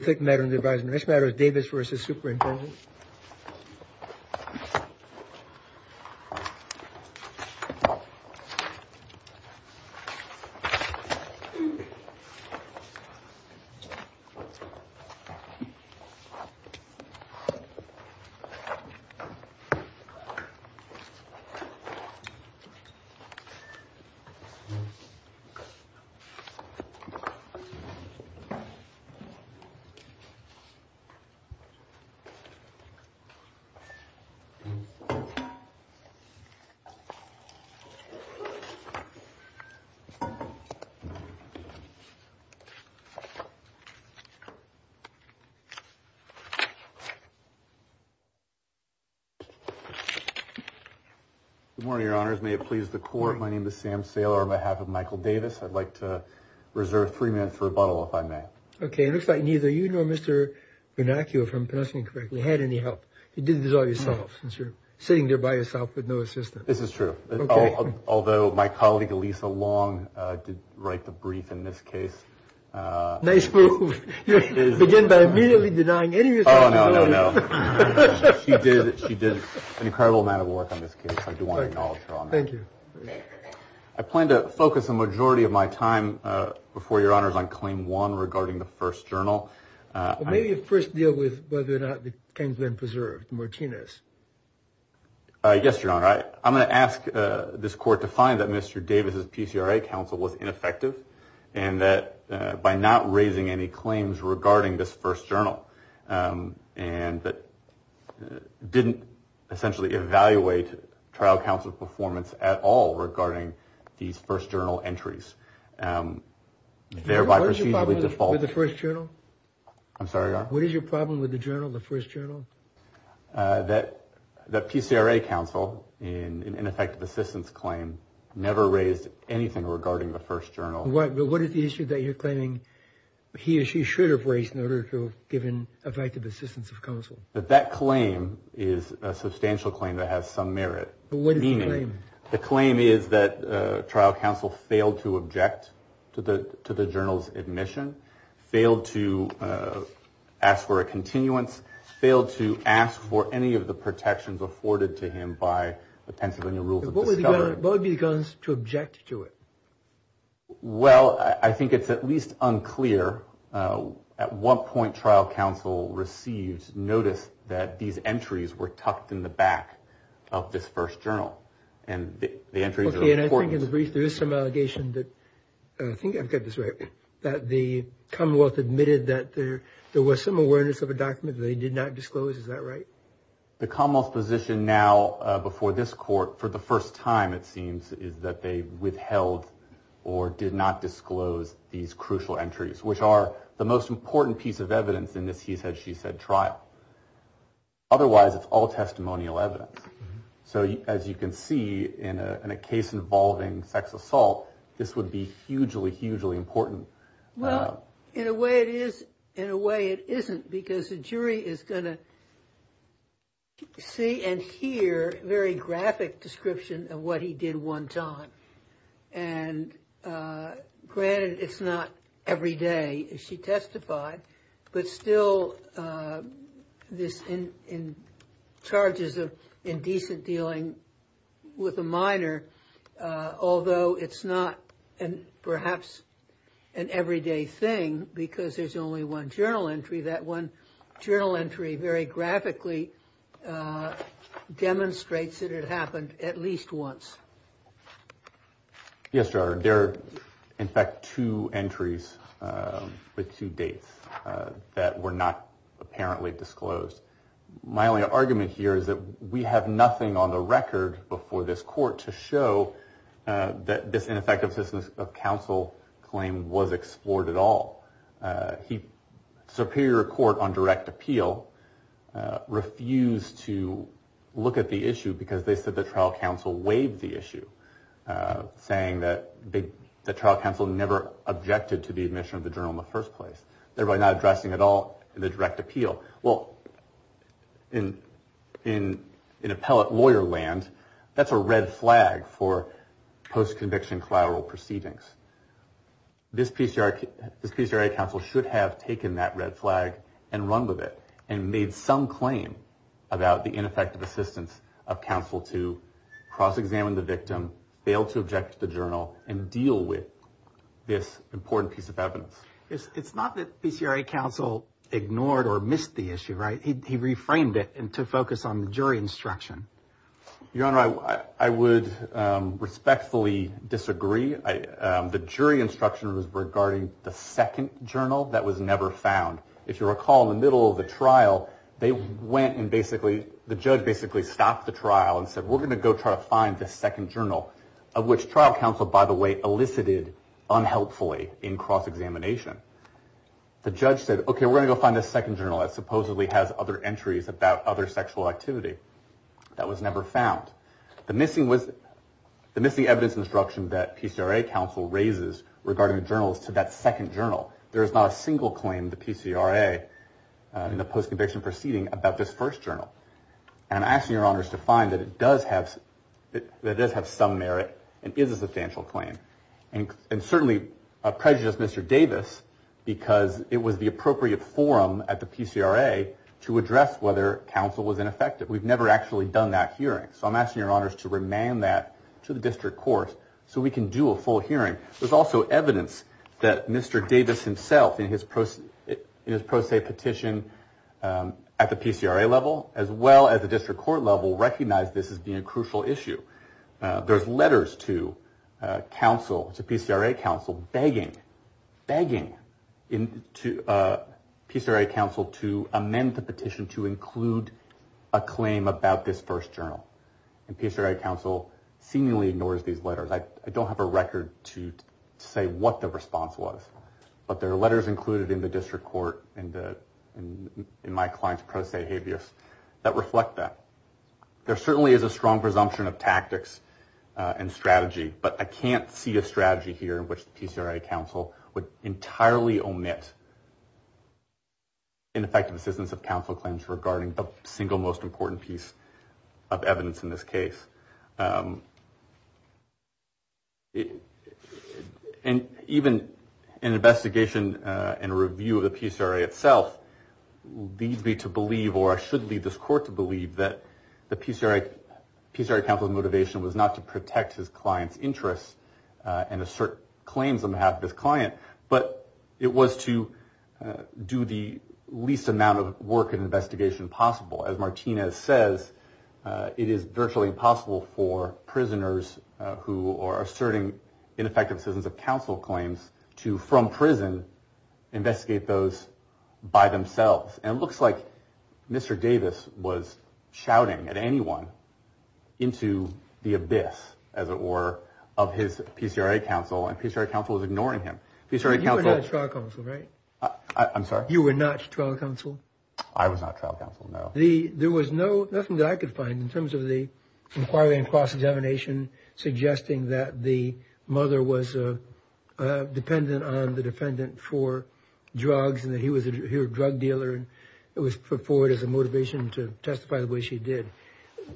Think that in the rightress better davis versus super important. Good morning, your honors. May it please the court. My name is Sam sailor on behalf of Michael Davis. I'd like to reserve 3 minutes for a bottle if I may. Okay. Looks like neither, you know, Mr. Bernanke or from passing correctly had any help. You did this all yourself since you're sitting there by yourself with no assistance. This is true. Although my colleague, Elisa Long, did write the brief in this case. Nice move. Begin by immediately denying any. Oh, no, no, no. She did. She did an incredible amount of work on this case. I do want to acknowledge. Thank you. I plan to focus a majority of my time before your honors on claim one regarding the first journal. Maybe you first deal with whether or not it can be preserved. Martinez. Yes, your honor. I'm going to ask this court to find that Mr. Davis's PCRA counsel was ineffective and that by not raising any claims regarding this first journal. And that didn't essentially evaluate trial counsel performance at all regarding these first journal entries. Thereby proceeding with the first journal. I'm sorry. What is your problem with the journal? The first journal that the PCRA counsel in an ineffective assistance claim never raised anything regarding the first journal. What is the issue that you're claiming he or she should have raised in order to have given effective assistance of counsel? But that claim is a substantial claim that has some merit. What do you mean? The claim is that trial counsel failed to object to the to the journal's admission, failed to ask for a continuance, failed to ask for any of the protections afforded to him by the Pennsylvania rules. What would be the guns to object to it? Well, I think it's at least unclear. At one point, trial counsel received notice that these entries were tucked in the back of this first journal and the entries. And I think in the brief, there is some allegation that I think I've got this right, that the Commonwealth admitted that there there was some awareness of a document they did not disclose. Is that right? The Commonwealth position now before this court for the first time, it seems is that they withheld or did not disclose these crucial entries, which are the most important piece of evidence in this. He said she said trial. Otherwise, it's all testimonial evidence. So as you can see in a case involving sex assault, this would be hugely, hugely important. Well, in a way, it is in a way it isn't because the jury is going to see and hear very graphic description of what he did one time. And granted, it's not every day she testified, but still this in in charges of indecent dealing with a minor, although it's not perhaps an everyday thing because there's only one journal entry. That one journal entry very graphically demonstrates that it happened at least once. Yes, sir. There are, in fact, two entries with two dates that were not apparently disclosed. My only argument here is that we have nothing on the record before this court to show that this ineffective system of counsel claim was explored at all. He superior court on direct appeal refused to look at the issue because they said the trial counsel waived the issue, saying that the trial counsel never objected to the admission of the journal in the first place, thereby not addressing at all in the direct appeal. Well, in an appellate lawyer land, that's a red flag for post-conviction collateral proceedings. This piece, this piece council should have taken that red flag and run with it and made some claim about the ineffective assistance of counsel to cross examine the victim, fail to object to the journal and deal with this important piece of evidence. It's not that PCRA counsel ignored or missed the issue. Right. He reframed it and to focus on the jury instruction. Your Honor, I would respectfully disagree. The jury instruction was regarding the second journal that was never found. If you recall, in the middle of the trial, they went and basically the judge basically stopped the trial and said, we're going to go try to find the second journal of which trial counsel, by the way, elicited unhelpfully in cross examination. The judge said, OK, we're going to find a second journal that supposedly has other entries about other sexual activity that was never found. The missing was the missing evidence instruction that PCRA counsel raises regarding journals to that second journal. There is not a single claim to PCRA in the post-conviction proceeding about this first journal. And I'm asking your honors to find that it does have that does have some merit and is a substantial claim. And certainly a prejudice, Mr. Davis, because it was the appropriate forum at the PCRA to address whether counsel was ineffective. We've never actually done that hearing. So I'm asking your honors to remand that to the district court so we can do a full hearing. There's also evidence that Mr. Davis himself in his post in his pro se petition at the PCRA level, as well as the district court level, recognize this as being a crucial issue. There's letters to counsel to PCRA counsel begging, begging to PCRA counsel to amend the petition to include a claim about this first journal. And PCRA counsel seemingly ignores these letters. I don't have a record to say what the response was, but there are letters included in the district court and in my client's pro se habeas that reflect that. There certainly is a strong presumption of tactics and strategy, but I can't see a strategy here in which PCRA counsel would entirely omit. Ineffective assistance of counsel claims regarding the single most important piece of evidence in this case. And even an investigation and a review of the PCRA itself leads me to believe, or I should lead this court to believe that the PCRA PCRA counsel's motivation was not to protect his client's interests and assert claims on behalf of his client, but it was to do the least amount of work and investigation possible. As Martinez says, it is virtually impossible for prisoners who are asserting ineffective assistance of counsel claims to, from prison, investigate those by themselves. And it looks like Mr. Davis was shouting at anyone into the abyss, as it were, of his PCRA counsel. And PCRA counsel was ignoring him. PCRA counsel. I'm sorry. You were not trial counsel. I was not trial counsel. No, the there was no nothing that I could find in terms of the inquiry and cross examination, suggesting that the mother was dependent on the defendant for drugs and that he was a drug dealer. And it was put forward as a motivation to testify the way she did.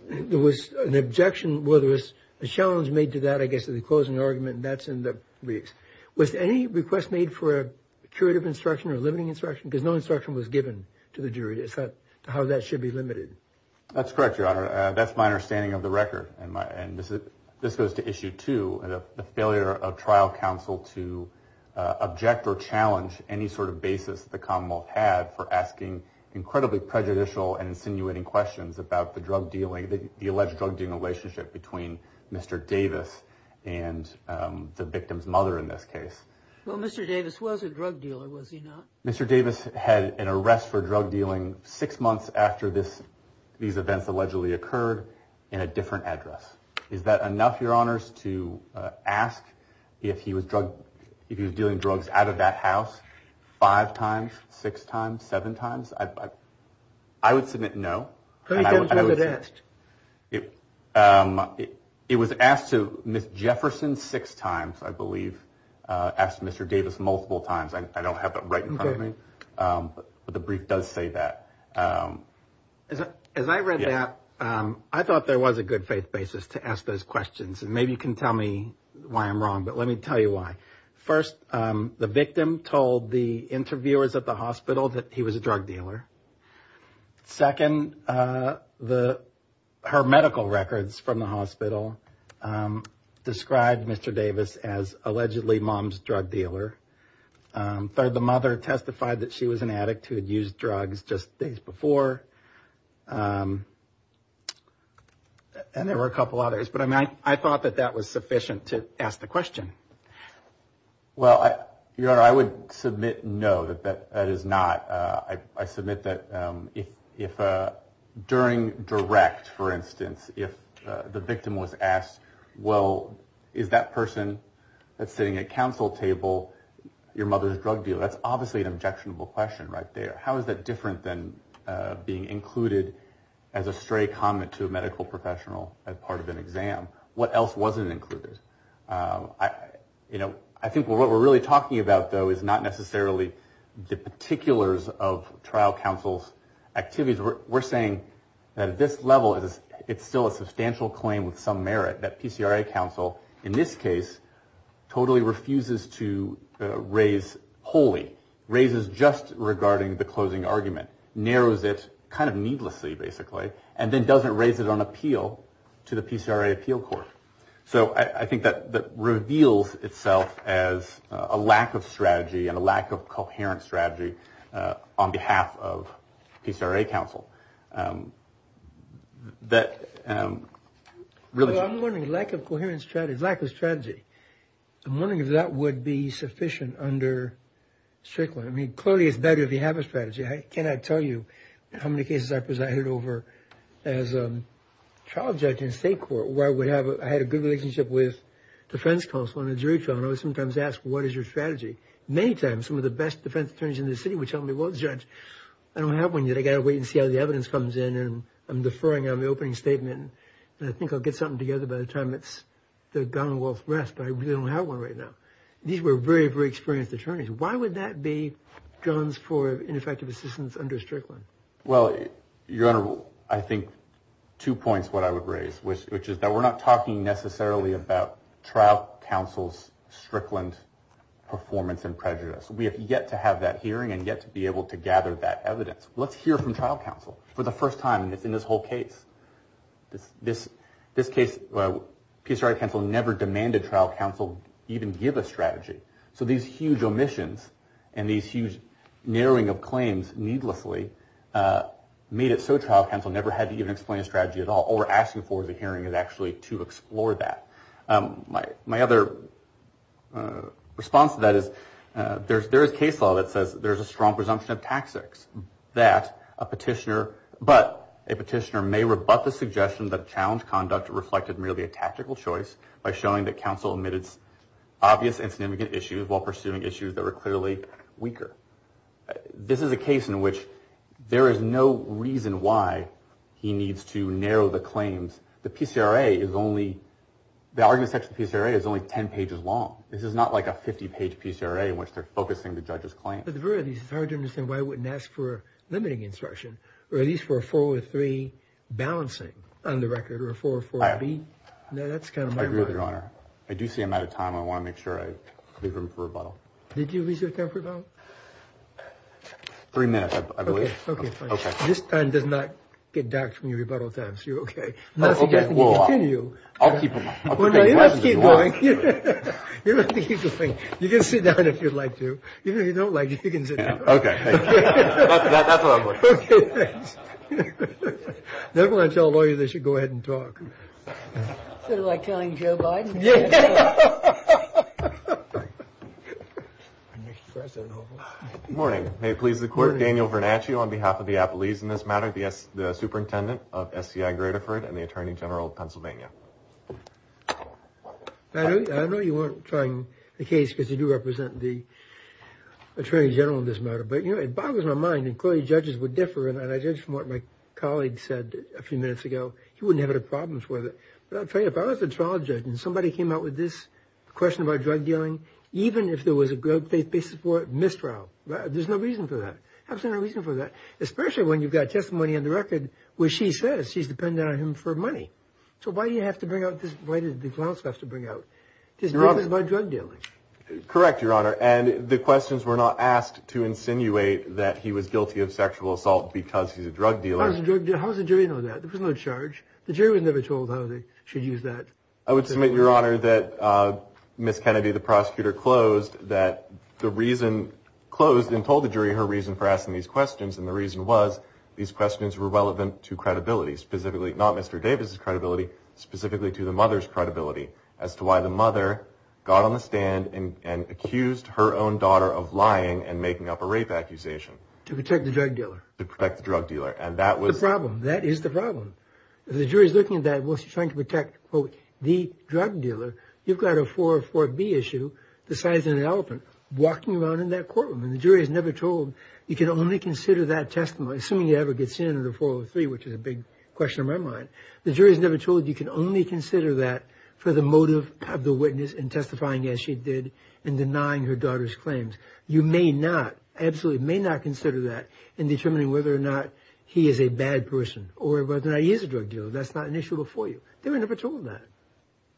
There was an objection. Well, there was a challenge made to that, I guess, to the closing argument. That's in the weeks with any request made for a curative instruction or limiting instruction because no instruction was given to the jury. Is that how that should be limited? That's correct. Your Honor, that's my understanding of the record. And this is this goes to issue to the failure of trial counsel to object or challenge any sort of basis. The Commonwealth had for asking incredibly prejudicial and insinuating questions about the drug dealing, the alleged drug dealing relationship between Mr. Davis and the victim's mother in this case. Well, Mr. Davis was a drug dealer, was he not? Mr. Davis had an arrest for drug dealing six months after this. These events allegedly occurred in a different address. Is that enough? Your Honor's to ask if he was drug, if he was dealing drugs out of that house five times, six times, seven times. I would submit no. It was asked to Miss Jefferson six times, I believe. Asked Mr. Davis multiple times. I don't have that right in front of me, but the brief does say that. As I read that, I thought there was a good faith basis to ask those questions. And maybe you can tell me why I'm wrong, but let me tell you why. First, the victim told the interviewers at the hospital that he was a drug dealer. Second, the her medical records from the hospital described Mr. Davis as allegedly mom's drug dealer. Third, the mother testified that she was an addict who had used drugs just days before. And there were a couple others. But I thought that that was sufficient to ask the question. Well, Your Honor, I would submit no, that is not. I submit that if during direct, for instance, if the victim was asked, well, is that person that's sitting at counsel table your mother's drug dealer? That's obviously an objectionable question right there. How is that different than being included as a stray comment to a medical professional as part of an exam? What else wasn't included? You know, I think what we're really talking about, though, is not necessarily the particulars of trial counsel's activities. We're saying that at this level, it's still a substantial claim with some merit that PCRA counsel, in this case, totally refuses to raise wholly, raises just regarding the closing argument, narrows it kind of needlessly, basically, and then doesn't raise it on appeal to the PCRA appeal court. So I think that that reveals itself as a lack of strategy and a lack of coherent strategy on behalf of PCRA counsel. That really, I'm wondering, lack of coherence, lack of strategy. I'm wondering if that would be sufficient under Strickland. I mean, clearly, it's better if you have a strategy. Can I tell you how many cases I presided over as a trial judge in state court where I had a good relationship with defense counsel and a jury trial? And I was sometimes asked, what is your strategy? Many times, some of the best defense attorneys in the city would tell me, well, judge, I don't have one yet. I got to wait and see how the evidence comes in. And I'm deferring on the opening statement. And I think I'll get something together by the time it's the Commonwealth rest. But I really don't have one right now. These were very, very experienced attorneys. Why would that be grounds for ineffective assistance under Strickland? Well, your Honor, I think two points what I would raise, which is that we're not talking necessarily about trial counsel's Strickland performance and prejudice. We have yet to have that hearing and yet to be able to gather that evidence. Let's hear from trial counsel for the first time in this whole case. This case, PCRA counsel never demanded trial counsel even give a strategy. So these huge omissions and these huge narrowing of claims needlessly made it so trial counsel never had to even explain a strategy at all or asking for the hearing is actually to explore that. My other response to that is there is case law that says there is a strong presumption of tactics that a petitioner, but a petitioner may rebut the suggestion that challenge conduct reflected merely a tactical choice by showing that counsel omitted obvious and significant issues while pursuing issues that were clearly weaker. This is a case in which there is no reason why he needs to narrow the claims. The PCRA is only, the argument section of the PCRA is only 10 pages long. This is not like a 50-page PCRA in which they're focusing the judge's claims. At the very least, it's hard to understand why he wouldn't ask for a limiting instruction or at least for a 403 balancing on the record or a 404B. I agree with your honor. I do see I'm out of time. I want to make sure I leave room for rebuttal. Did you leave your time for rebuttal? Three minutes, I believe. Okay, fine. This time does not get docked from your rebuttal time, so you're okay. Okay, well, I'll keep him. You don't have to keep going. You don't have to keep going. You can sit down if you'd like to. Even if you don't like it, you can sit down. Okay, thank you. That's what I'm looking for. Okay, thanks. Never want to tell a lawyer they should go ahead and talk. Sort of like telling Joe Biden. Yeah. Good morning. May it please the court. Daniel Vernacchio on behalf of the Appalachians in this matter, the superintendent of SCI Greaterford and the attorney general of Pennsylvania. I know you weren't trying the case because you do represent the attorney general in this matter, but, you know, it boggles my mind, and clearly judges would differ, and I judge from what my colleague said a few minutes ago. He wouldn't have any problems with it. But I'll tell you, if I was a trial judge and somebody came out with this question about drug dealing, even if there was a good faith basis for it, missed trial. There's no reason for that. There's absolutely no reason for that, especially when you've got testimony on the record where she says she's depending on him for money. So why do you have to bring out this? Why do the clowns have to bring out this? This is about drug dealing. Correct, Your Honor. And the questions were not asked to insinuate that he was guilty of sexual assault because he's a drug dealer. How does the jury know that? There was no charge. The jury was never told how they should use that. I would submit, Your Honor, that Ms. Kennedy, the prosecutor, closed and told the jury her reason for asking these questions, and the reason was these questions were relevant to credibility, specifically not Mr. Davis's credibility, specifically to the mother's credibility, as to why the mother got on the stand and accused her own daughter of lying and making up a rape accusation. To protect the drug dealer. To protect the drug dealer. And that was... The problem. That is the problem. The jury's looking at that. Well, she's trying to protect, quote, the drug dealer. You've got a 404B issue, the size of an elephant, walking around in that courtroom, and the jury's never told. You can only consider that testimony, assuming it ever gets in under 403, which is a big question in my mind. The jury's never told. You can only consider that for the motive of the witness in testifying, as she did, in denying her daughter's claims. You may not, absolutely may not, consider that in determining whether or not he is a bad person or whether or not he is a drug dealer. That's not an issue before you. They were never told that.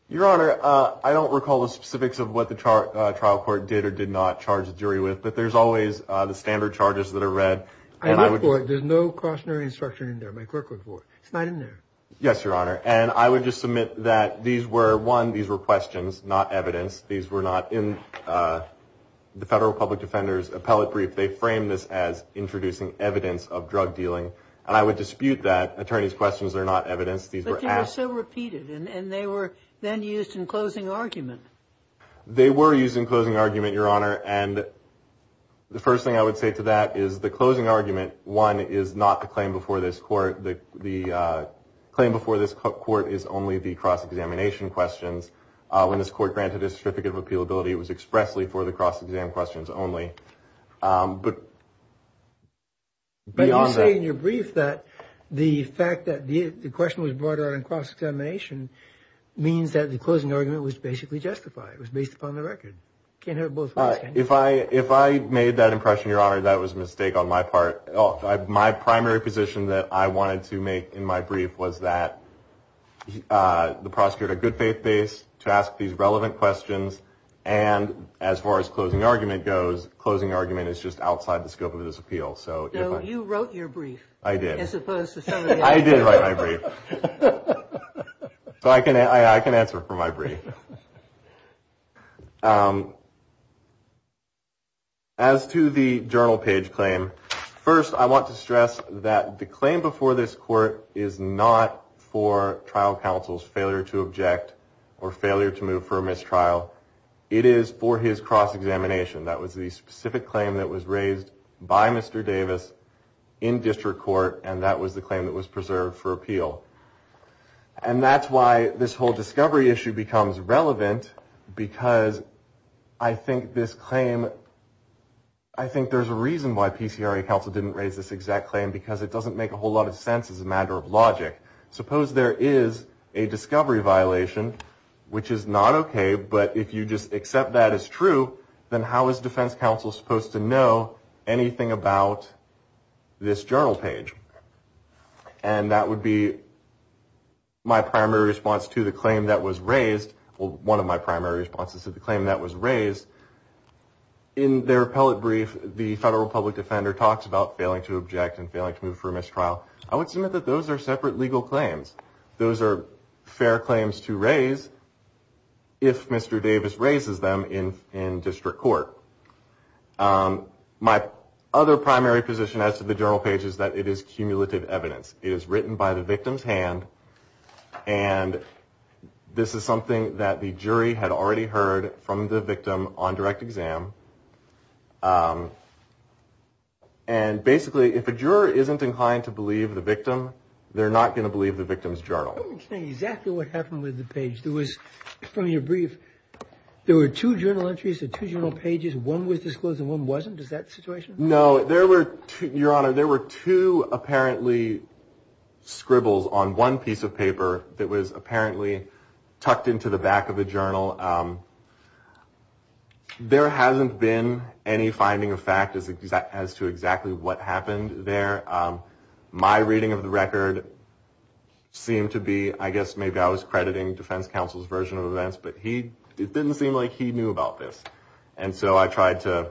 Your Honor, I don't recall the specifics of what the trial court did or did not charge the jury with, but there's always the standard charges that are read. I looked for it. There's no cautionary instruction in there. My clerk looked for it. It's not in there. Yes, Your Honor. And I would just submit that these were, one, these were questions, not evidence. These were not in the Federal Public Defender's appellate brief. They framed this as introducing evidence of drug dealing, and I would dispute that. Attorneys' questions are not evidence. But they were so repeated, and they were then used in closing argument. They were used in closing argument, Your Honor. And the first thing I would say to that is the closing argument, one, is not the claim before this court. The claim before this court is only the cross-examination questions. When this court granted this certificate of appealability, it was expressly for the cross-exam questions only. But you say in your brief that the fact that the question was brought around cross-examination means that the closing argument was basically justified. It was based upon the record. If I made that impression, Your Honor, that was a mistake on my part. My primary position that I wanted to make in my brief was that the prosecutor had a good faith base to ask these relevant questions, and as far as closing argument goes, closing argument is just outside the scope of this appeal. So you wrote your brief. I did. I did write my brief. So I can answer for my brief. As to the journal page claim, first I want to stress that the claim before this court is not for trial counsel's failure to object or failure to move for a mistrial. It is for his cross-examination. That was the specific claim that was raised by Mr. Davis in district court, and that was the claim that was preserved for appeal. And that's why this whole discovery issue becomes relevant, because I think this claim, I think there's a reason why PCRA counsel didn't raise this exact claim, because it doesn't make a whole lot of sense as a matter of logic. Suppose there is a discovery violation, which is not okay, but if you just accept that as true, then how is defense counsel supposed to know anything about this journal page? And that would be my primary response to the claim that was raised, or one of my primary responses to the claim that was raised. In their appellate brief, the federal public defender talks about failing to object and failing to move for a mistrial. I would submit that those are separate legal claims. Those are fair claims to raise if Mr. Davis raises them in district court. My other primary position as to the journal page is that it is cumulative evidence. It is written by the victim's hand, and this is something that the jury had already heard from the victim on direct exam. And basically, if a juror isn't inclined to believe the victim, they're not going to believe the victim's journal. Let me explain exactly what happened with the page. From your brief, there were two journal entries, two journal pages. One was disclosed and one wasn't. Is that the situation? No. Your Honor, there were two, apparently, scribbles on one piece of paper that was apparently tucked into the back of the journal. There hasn't been any finding of fact as to exactly what happened there. My reading of the record seemed to be, I guess maybe I was crediting defense counsel's version of events, but it didn't seem like he knew about this. And so I tried to...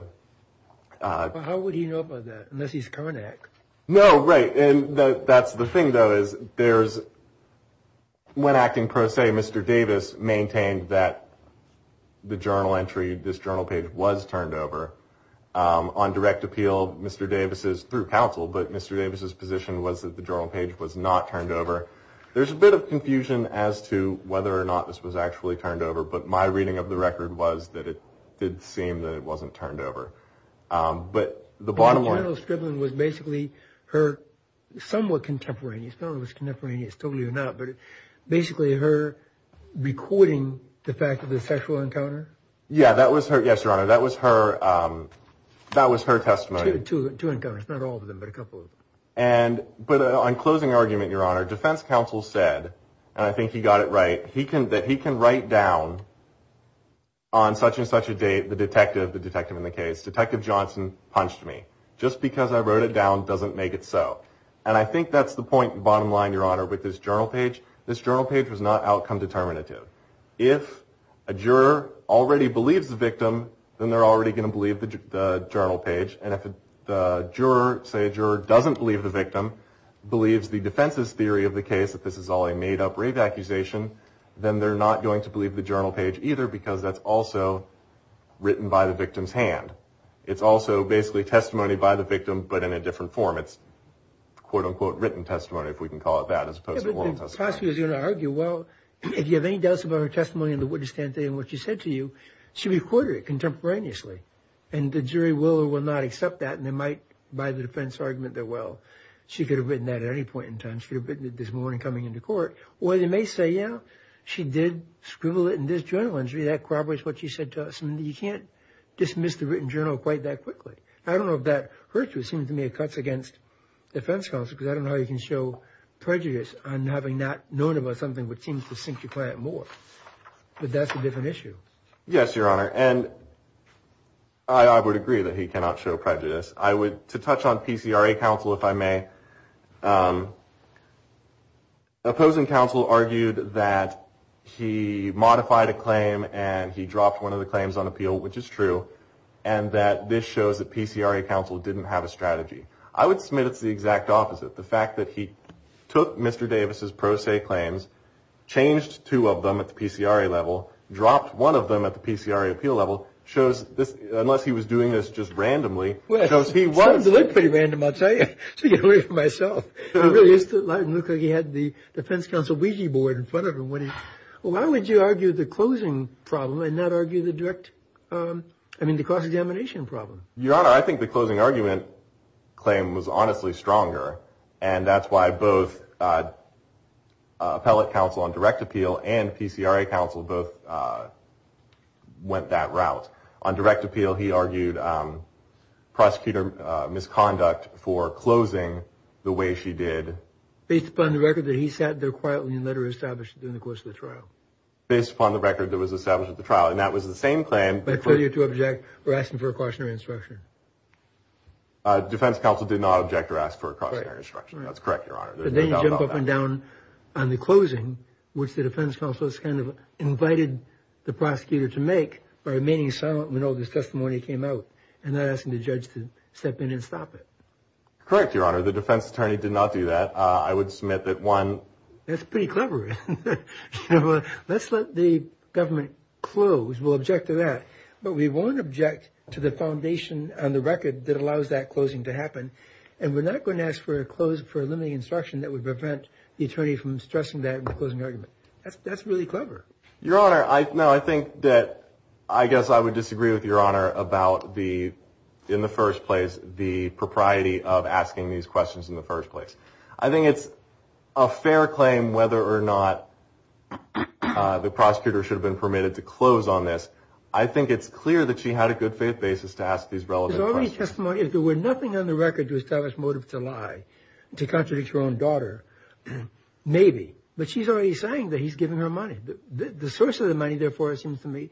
But how would he know about that, unless he's coming to act? No, right, and that's the thing, though, is there's... When acting pro se, Mr. Davis maintained that the journal entry, this journal page, was turned over. On direct appeal, Mr. Davis's, through counsel, but Mr. Davis's position was that the journal page was not turned over. There's a bit of confusion as to whether or not this was actually turned over, but my reading of the record was that it did seem that it wasn't turned over. But the bottom line... The journal scribbling was basically her, somewhat contemporaneous, not only was it contemporaneous, totally or not, but basically her recording the fact of the sexual encounter? Yeah, that was her, yes, Your Honor, that was her testimony. Two encounters, not all of them, but a couple of them. But on closing argument, Your Honor, defense counsel said, and I think he got it right, that he can write down on such and such a date, the detective, the detective in the case, Detective Johnson punched me, just because I wrote it down doesn't make it so. And I think that's the point, bottom line, Your Honor, with this journal page. This journal page was not outcome determinative. If a juror already believes the victim, then they're already going to believe the journal page. And if the juror, say a juror, doesn't believe the victim, believes the defense's theory of the case, that this is all a made-up rave accusation, then they're not going to believe the journal page either, because that's also written by the victim's hand. It's also basically testimony by the victim, but in a different form. It's quote-unquote written testimony, if we can call it that, as opposed to oral testimony. Well, if you have any doubts about her testimony in the witness stand today and what she said to you, she recorded it contemporaneously, and the jury will or will not accept that, and they might, by the defense argument, that, well, she could have written that at any point in time. She could have written it this morning coming into court. Or they may say, yeah, she did scribble it in this journal, and that corroborates what she said to us, and you can't dismiss the written journal quite that quickly. I don't know if that hurts you. It seems to me it cuts against defense counsel, because I don't know how you can show prejudice on having not known about something which seems to sink your client more, but that's a different issue. Yes, Your Honor, and I would agree that he cannot show prejudice. To touch on PCRA counsel, if I may, opposing counsel argued that he modified a claim and he dropped one of the claims on appeal, which is true, I would submit it's the exact opposite. The fact that he took Mr. Davis' pro se claims, changed two of them at the PCRA level, dropped one of them at the PCRA appeal level, unless he was doing this just randomly, shows he was. Well, it looked pretty random, I'll tell you. To get away from myself. It really looked like he had the defense counsel Ouija board in front of him. Why would you argue the closing problem and not argue the direct, I mean, the cross-examination problem? Your Honor, I think the closing argument claim was honestly stronger, and that's why both appellate counsel on direct appeal and PCRA counsel both went that route. On direct appeal, he argued prosecutor misconduct for closing the way she did. Based upon the record that he sat there quietly and later established it during the course of the trial. Based upon the record that was established at the trial, and that was the same claim. By failure to object or asking for a cautionary instruction. Defense counsel did not object or ask for a cautionary instruction. That's correct, Your Honor. Then you jump up and down on the closing, which the defense counsel has kind of invited the prosecutor to make by remaining silent when all this testimony came out and then asking the judge to step in and stop it. Correct, Your Honor. The defense attorney did not do that. I would submit that one. That's pretty clever. Let's let the government close. We'll object to that. But we won't object to the foundation on the record that allows that closing to happen. And we're not going to ask for a limiting instruction that would prevent the attorney from stressing that in the closing argument. That's really clever. Your Honor, I think that I guess I would disagree with Your Honor about the, in the first place, the propriety of asking these questions in the first place. I think it's a fair claim whether or not the prosecutor should have been permitted to close on this. I think it's clear that she had a good faith basis to ask these relevant questions. If there were nothing on the record to establish motive to lie, to contradict her own daughter, maybe. But she's already saying that he's giving her money. The source of the money, therefore, it seems to me,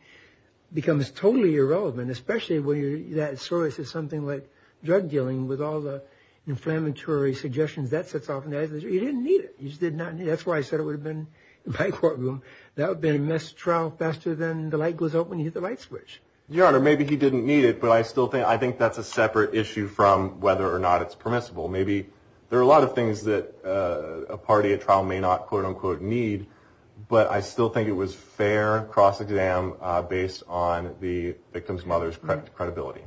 becomes totally irrelevant, especially when that source is something like drug dealing with all the inflammatory suggestions that sets off. You didn't need it. You just did not need it. That's why I said it would have been in my courtroom. That would have been a missed trial faster than the light goes out when you hit the light switch. Your Honor, maybe he didn't need it, but I still think that's a separate issue from whether or not it's permissible. Maybe there are a lot of things that a party at trial may not, quote, unquote, need, but I still think it was fair cross-exam based on the victim's mother's credibility.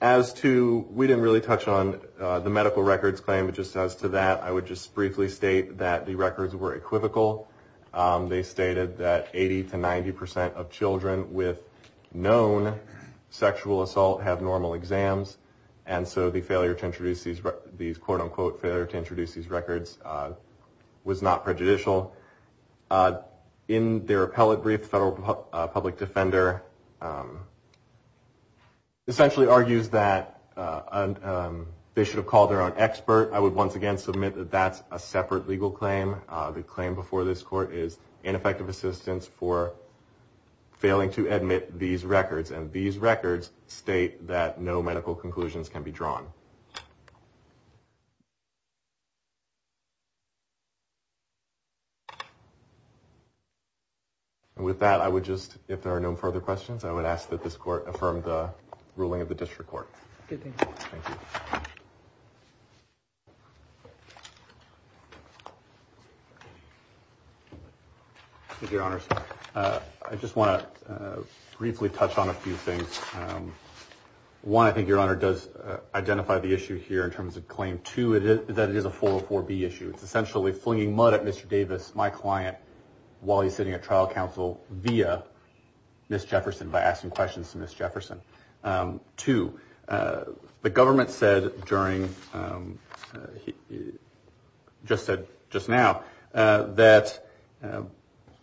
As to, we didn't really touch on the medical records claim. Just as to that, I would just briefly state that the records were equivocal. They stated that 80 to 90 percent of children with known sexual assault have normal exams, and so the failure to introduce these, quote, unquote, failure to introduce these records was not prejudicial. In their appellate brief, the federal public defender essentially argues that they should have called their own expert. I would once again submit that that's a separate legal claim. The claim before this court is ineffective assistance for failing to admit these records, and these records state that no medical conclusions can be drawn. And with that, I would just, if there are no further questions, I would ask that this court affirm the ruling of the district court. Thank you. Thank you, Your Honors. I just want to briefly touch on a few things. One, I think Your Honor does identify the issue here in terms of claim. Two, that it is a 404B issue. It's essentially flinging mud at Mr. Davis, my client, while he's sitting at trial counsel via Ms. Jefferson by asking questions to Ms. Jefferson. Two, the government said during, just said just now, that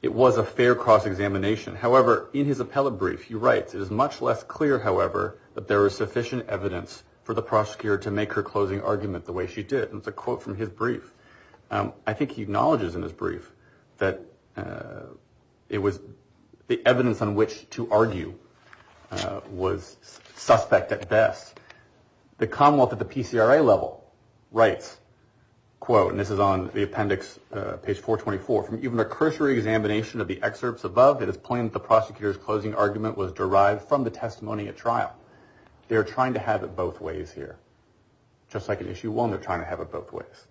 it was a fair cross-examination. However, in his appellate brief, he writes, it is much less clear, however, that there is sufficient evidence for the prosecutor to make her closing argument the way she did. And it's a quote from his brief. I think he acknowledges in his brief that it was the evidence on which to argue was suspect at best. The Commonwealth at the PCRA level writes, quote, and this is on the appendix, page 424, from even a cursory examination of the excerpts above, it is plain that the prosecutor's closing argument was derived from the testimony at trial. They are trying to have it both ways here. Just like in issue one, they're trying to have it both ways.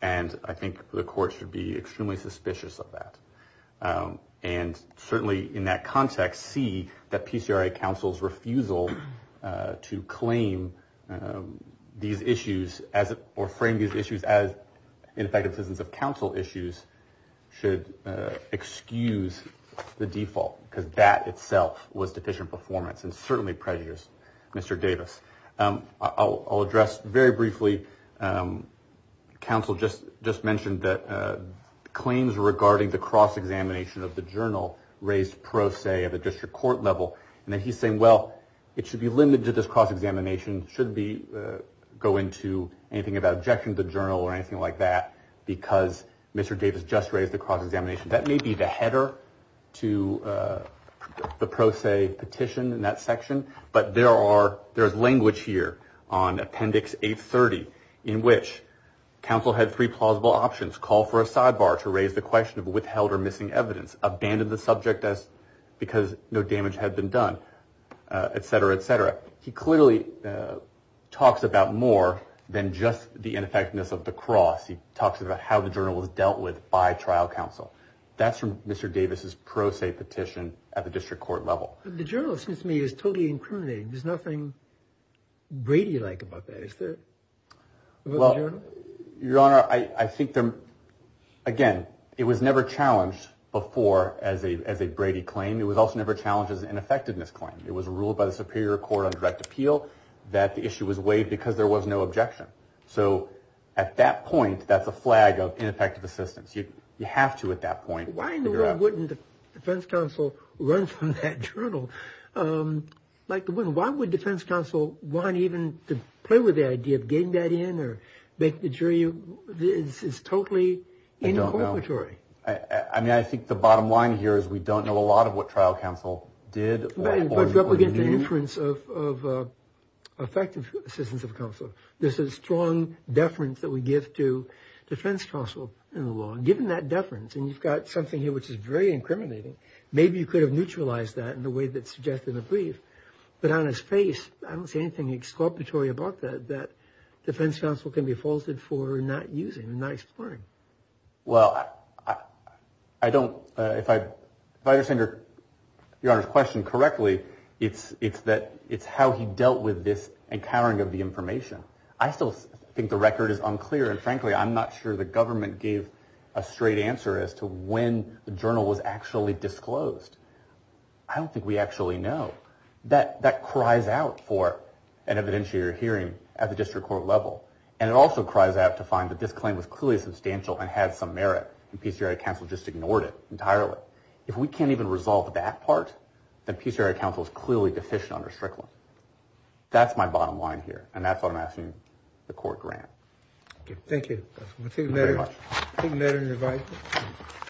And I think the court should be extremely suspicious of that. And certainly in that context, see that PCRA counsel's refusal to claim these issues or frame these issues as ineffective systems of counsel issues should excuse the default, because that itself was deficient performance and certainly prejudice, Mr. Davis. I'll address very briefly, counsel just mentioned that claims regarding the cross-examination of the journal raised pro se at the district court level. And then he's saying, well, it should be limited to this cross-examination. It shouldn't go into anything about objection to the journal or anything like that, because Mr. Davis just raised the cross-examination. That may be the header to the pro se petition in that section. But there is language here on appendix 830 in which counsel had three plausible options, call for a sidebar to raise the question of withheld or missing evidence, abandon the subject because no damage had been done, et cetera, et cetera. He clearly talks about more than just the ineffectiveness of the cross. He talks about how the journal was dealt with by trial counsel. That's from Mr. Davis' pro se petition at the district court level. The journal, it seems to me, is totally incriminating. There's nothing Brady-like about that, is there, about the journal? Well, Your Honor, I think, again, it was never challenged before as a Brady claim. It was also never challenged as an ineffectiveness claim. It was ruled by the Superior Court on direct appeal that the issue was waived because there was no objection. So at that point, that's a flag of ineffective assistance. You have to at that point figure out. Why wouldn't the defense counsel run from that journal? Why would defense counsel want even to play with the idea of getting that in or make the jury? It's totally incorporatory. I mean, I think the bottom line here is we don't know a lot of what trial counsel did or knew. But don't forget the inference of effective assistance of counsel. There's a strong deference that we give to defense counsel in the law. Given that deference, and you've got something here which is very incriminating, maybe you could have neutralized that in the way that's suggested in the brief. But on his face, I don't see anything excorporatory about that, that defense counsel can be faulted for not using and not exploring. Well, if I understand Your Honor's question correctly, it's how he dealt with this encountering of the information. I still think the record is unclear. And frankly, I'm not sure the government gave a straight answer as to when the journal was actually disclosed. I don't think we actually know. That cries out for an evidentiary hearing at the district court level. And it also cries out to find that this claim was clearly substantial and had some merit, and PCRI counsel just ignored it entirely. If we can't even resolve that part, then PCRI counsel is clearly deficient under Strickland. That's my bottom line here, and that's what I'm asking the court grant. Thank you.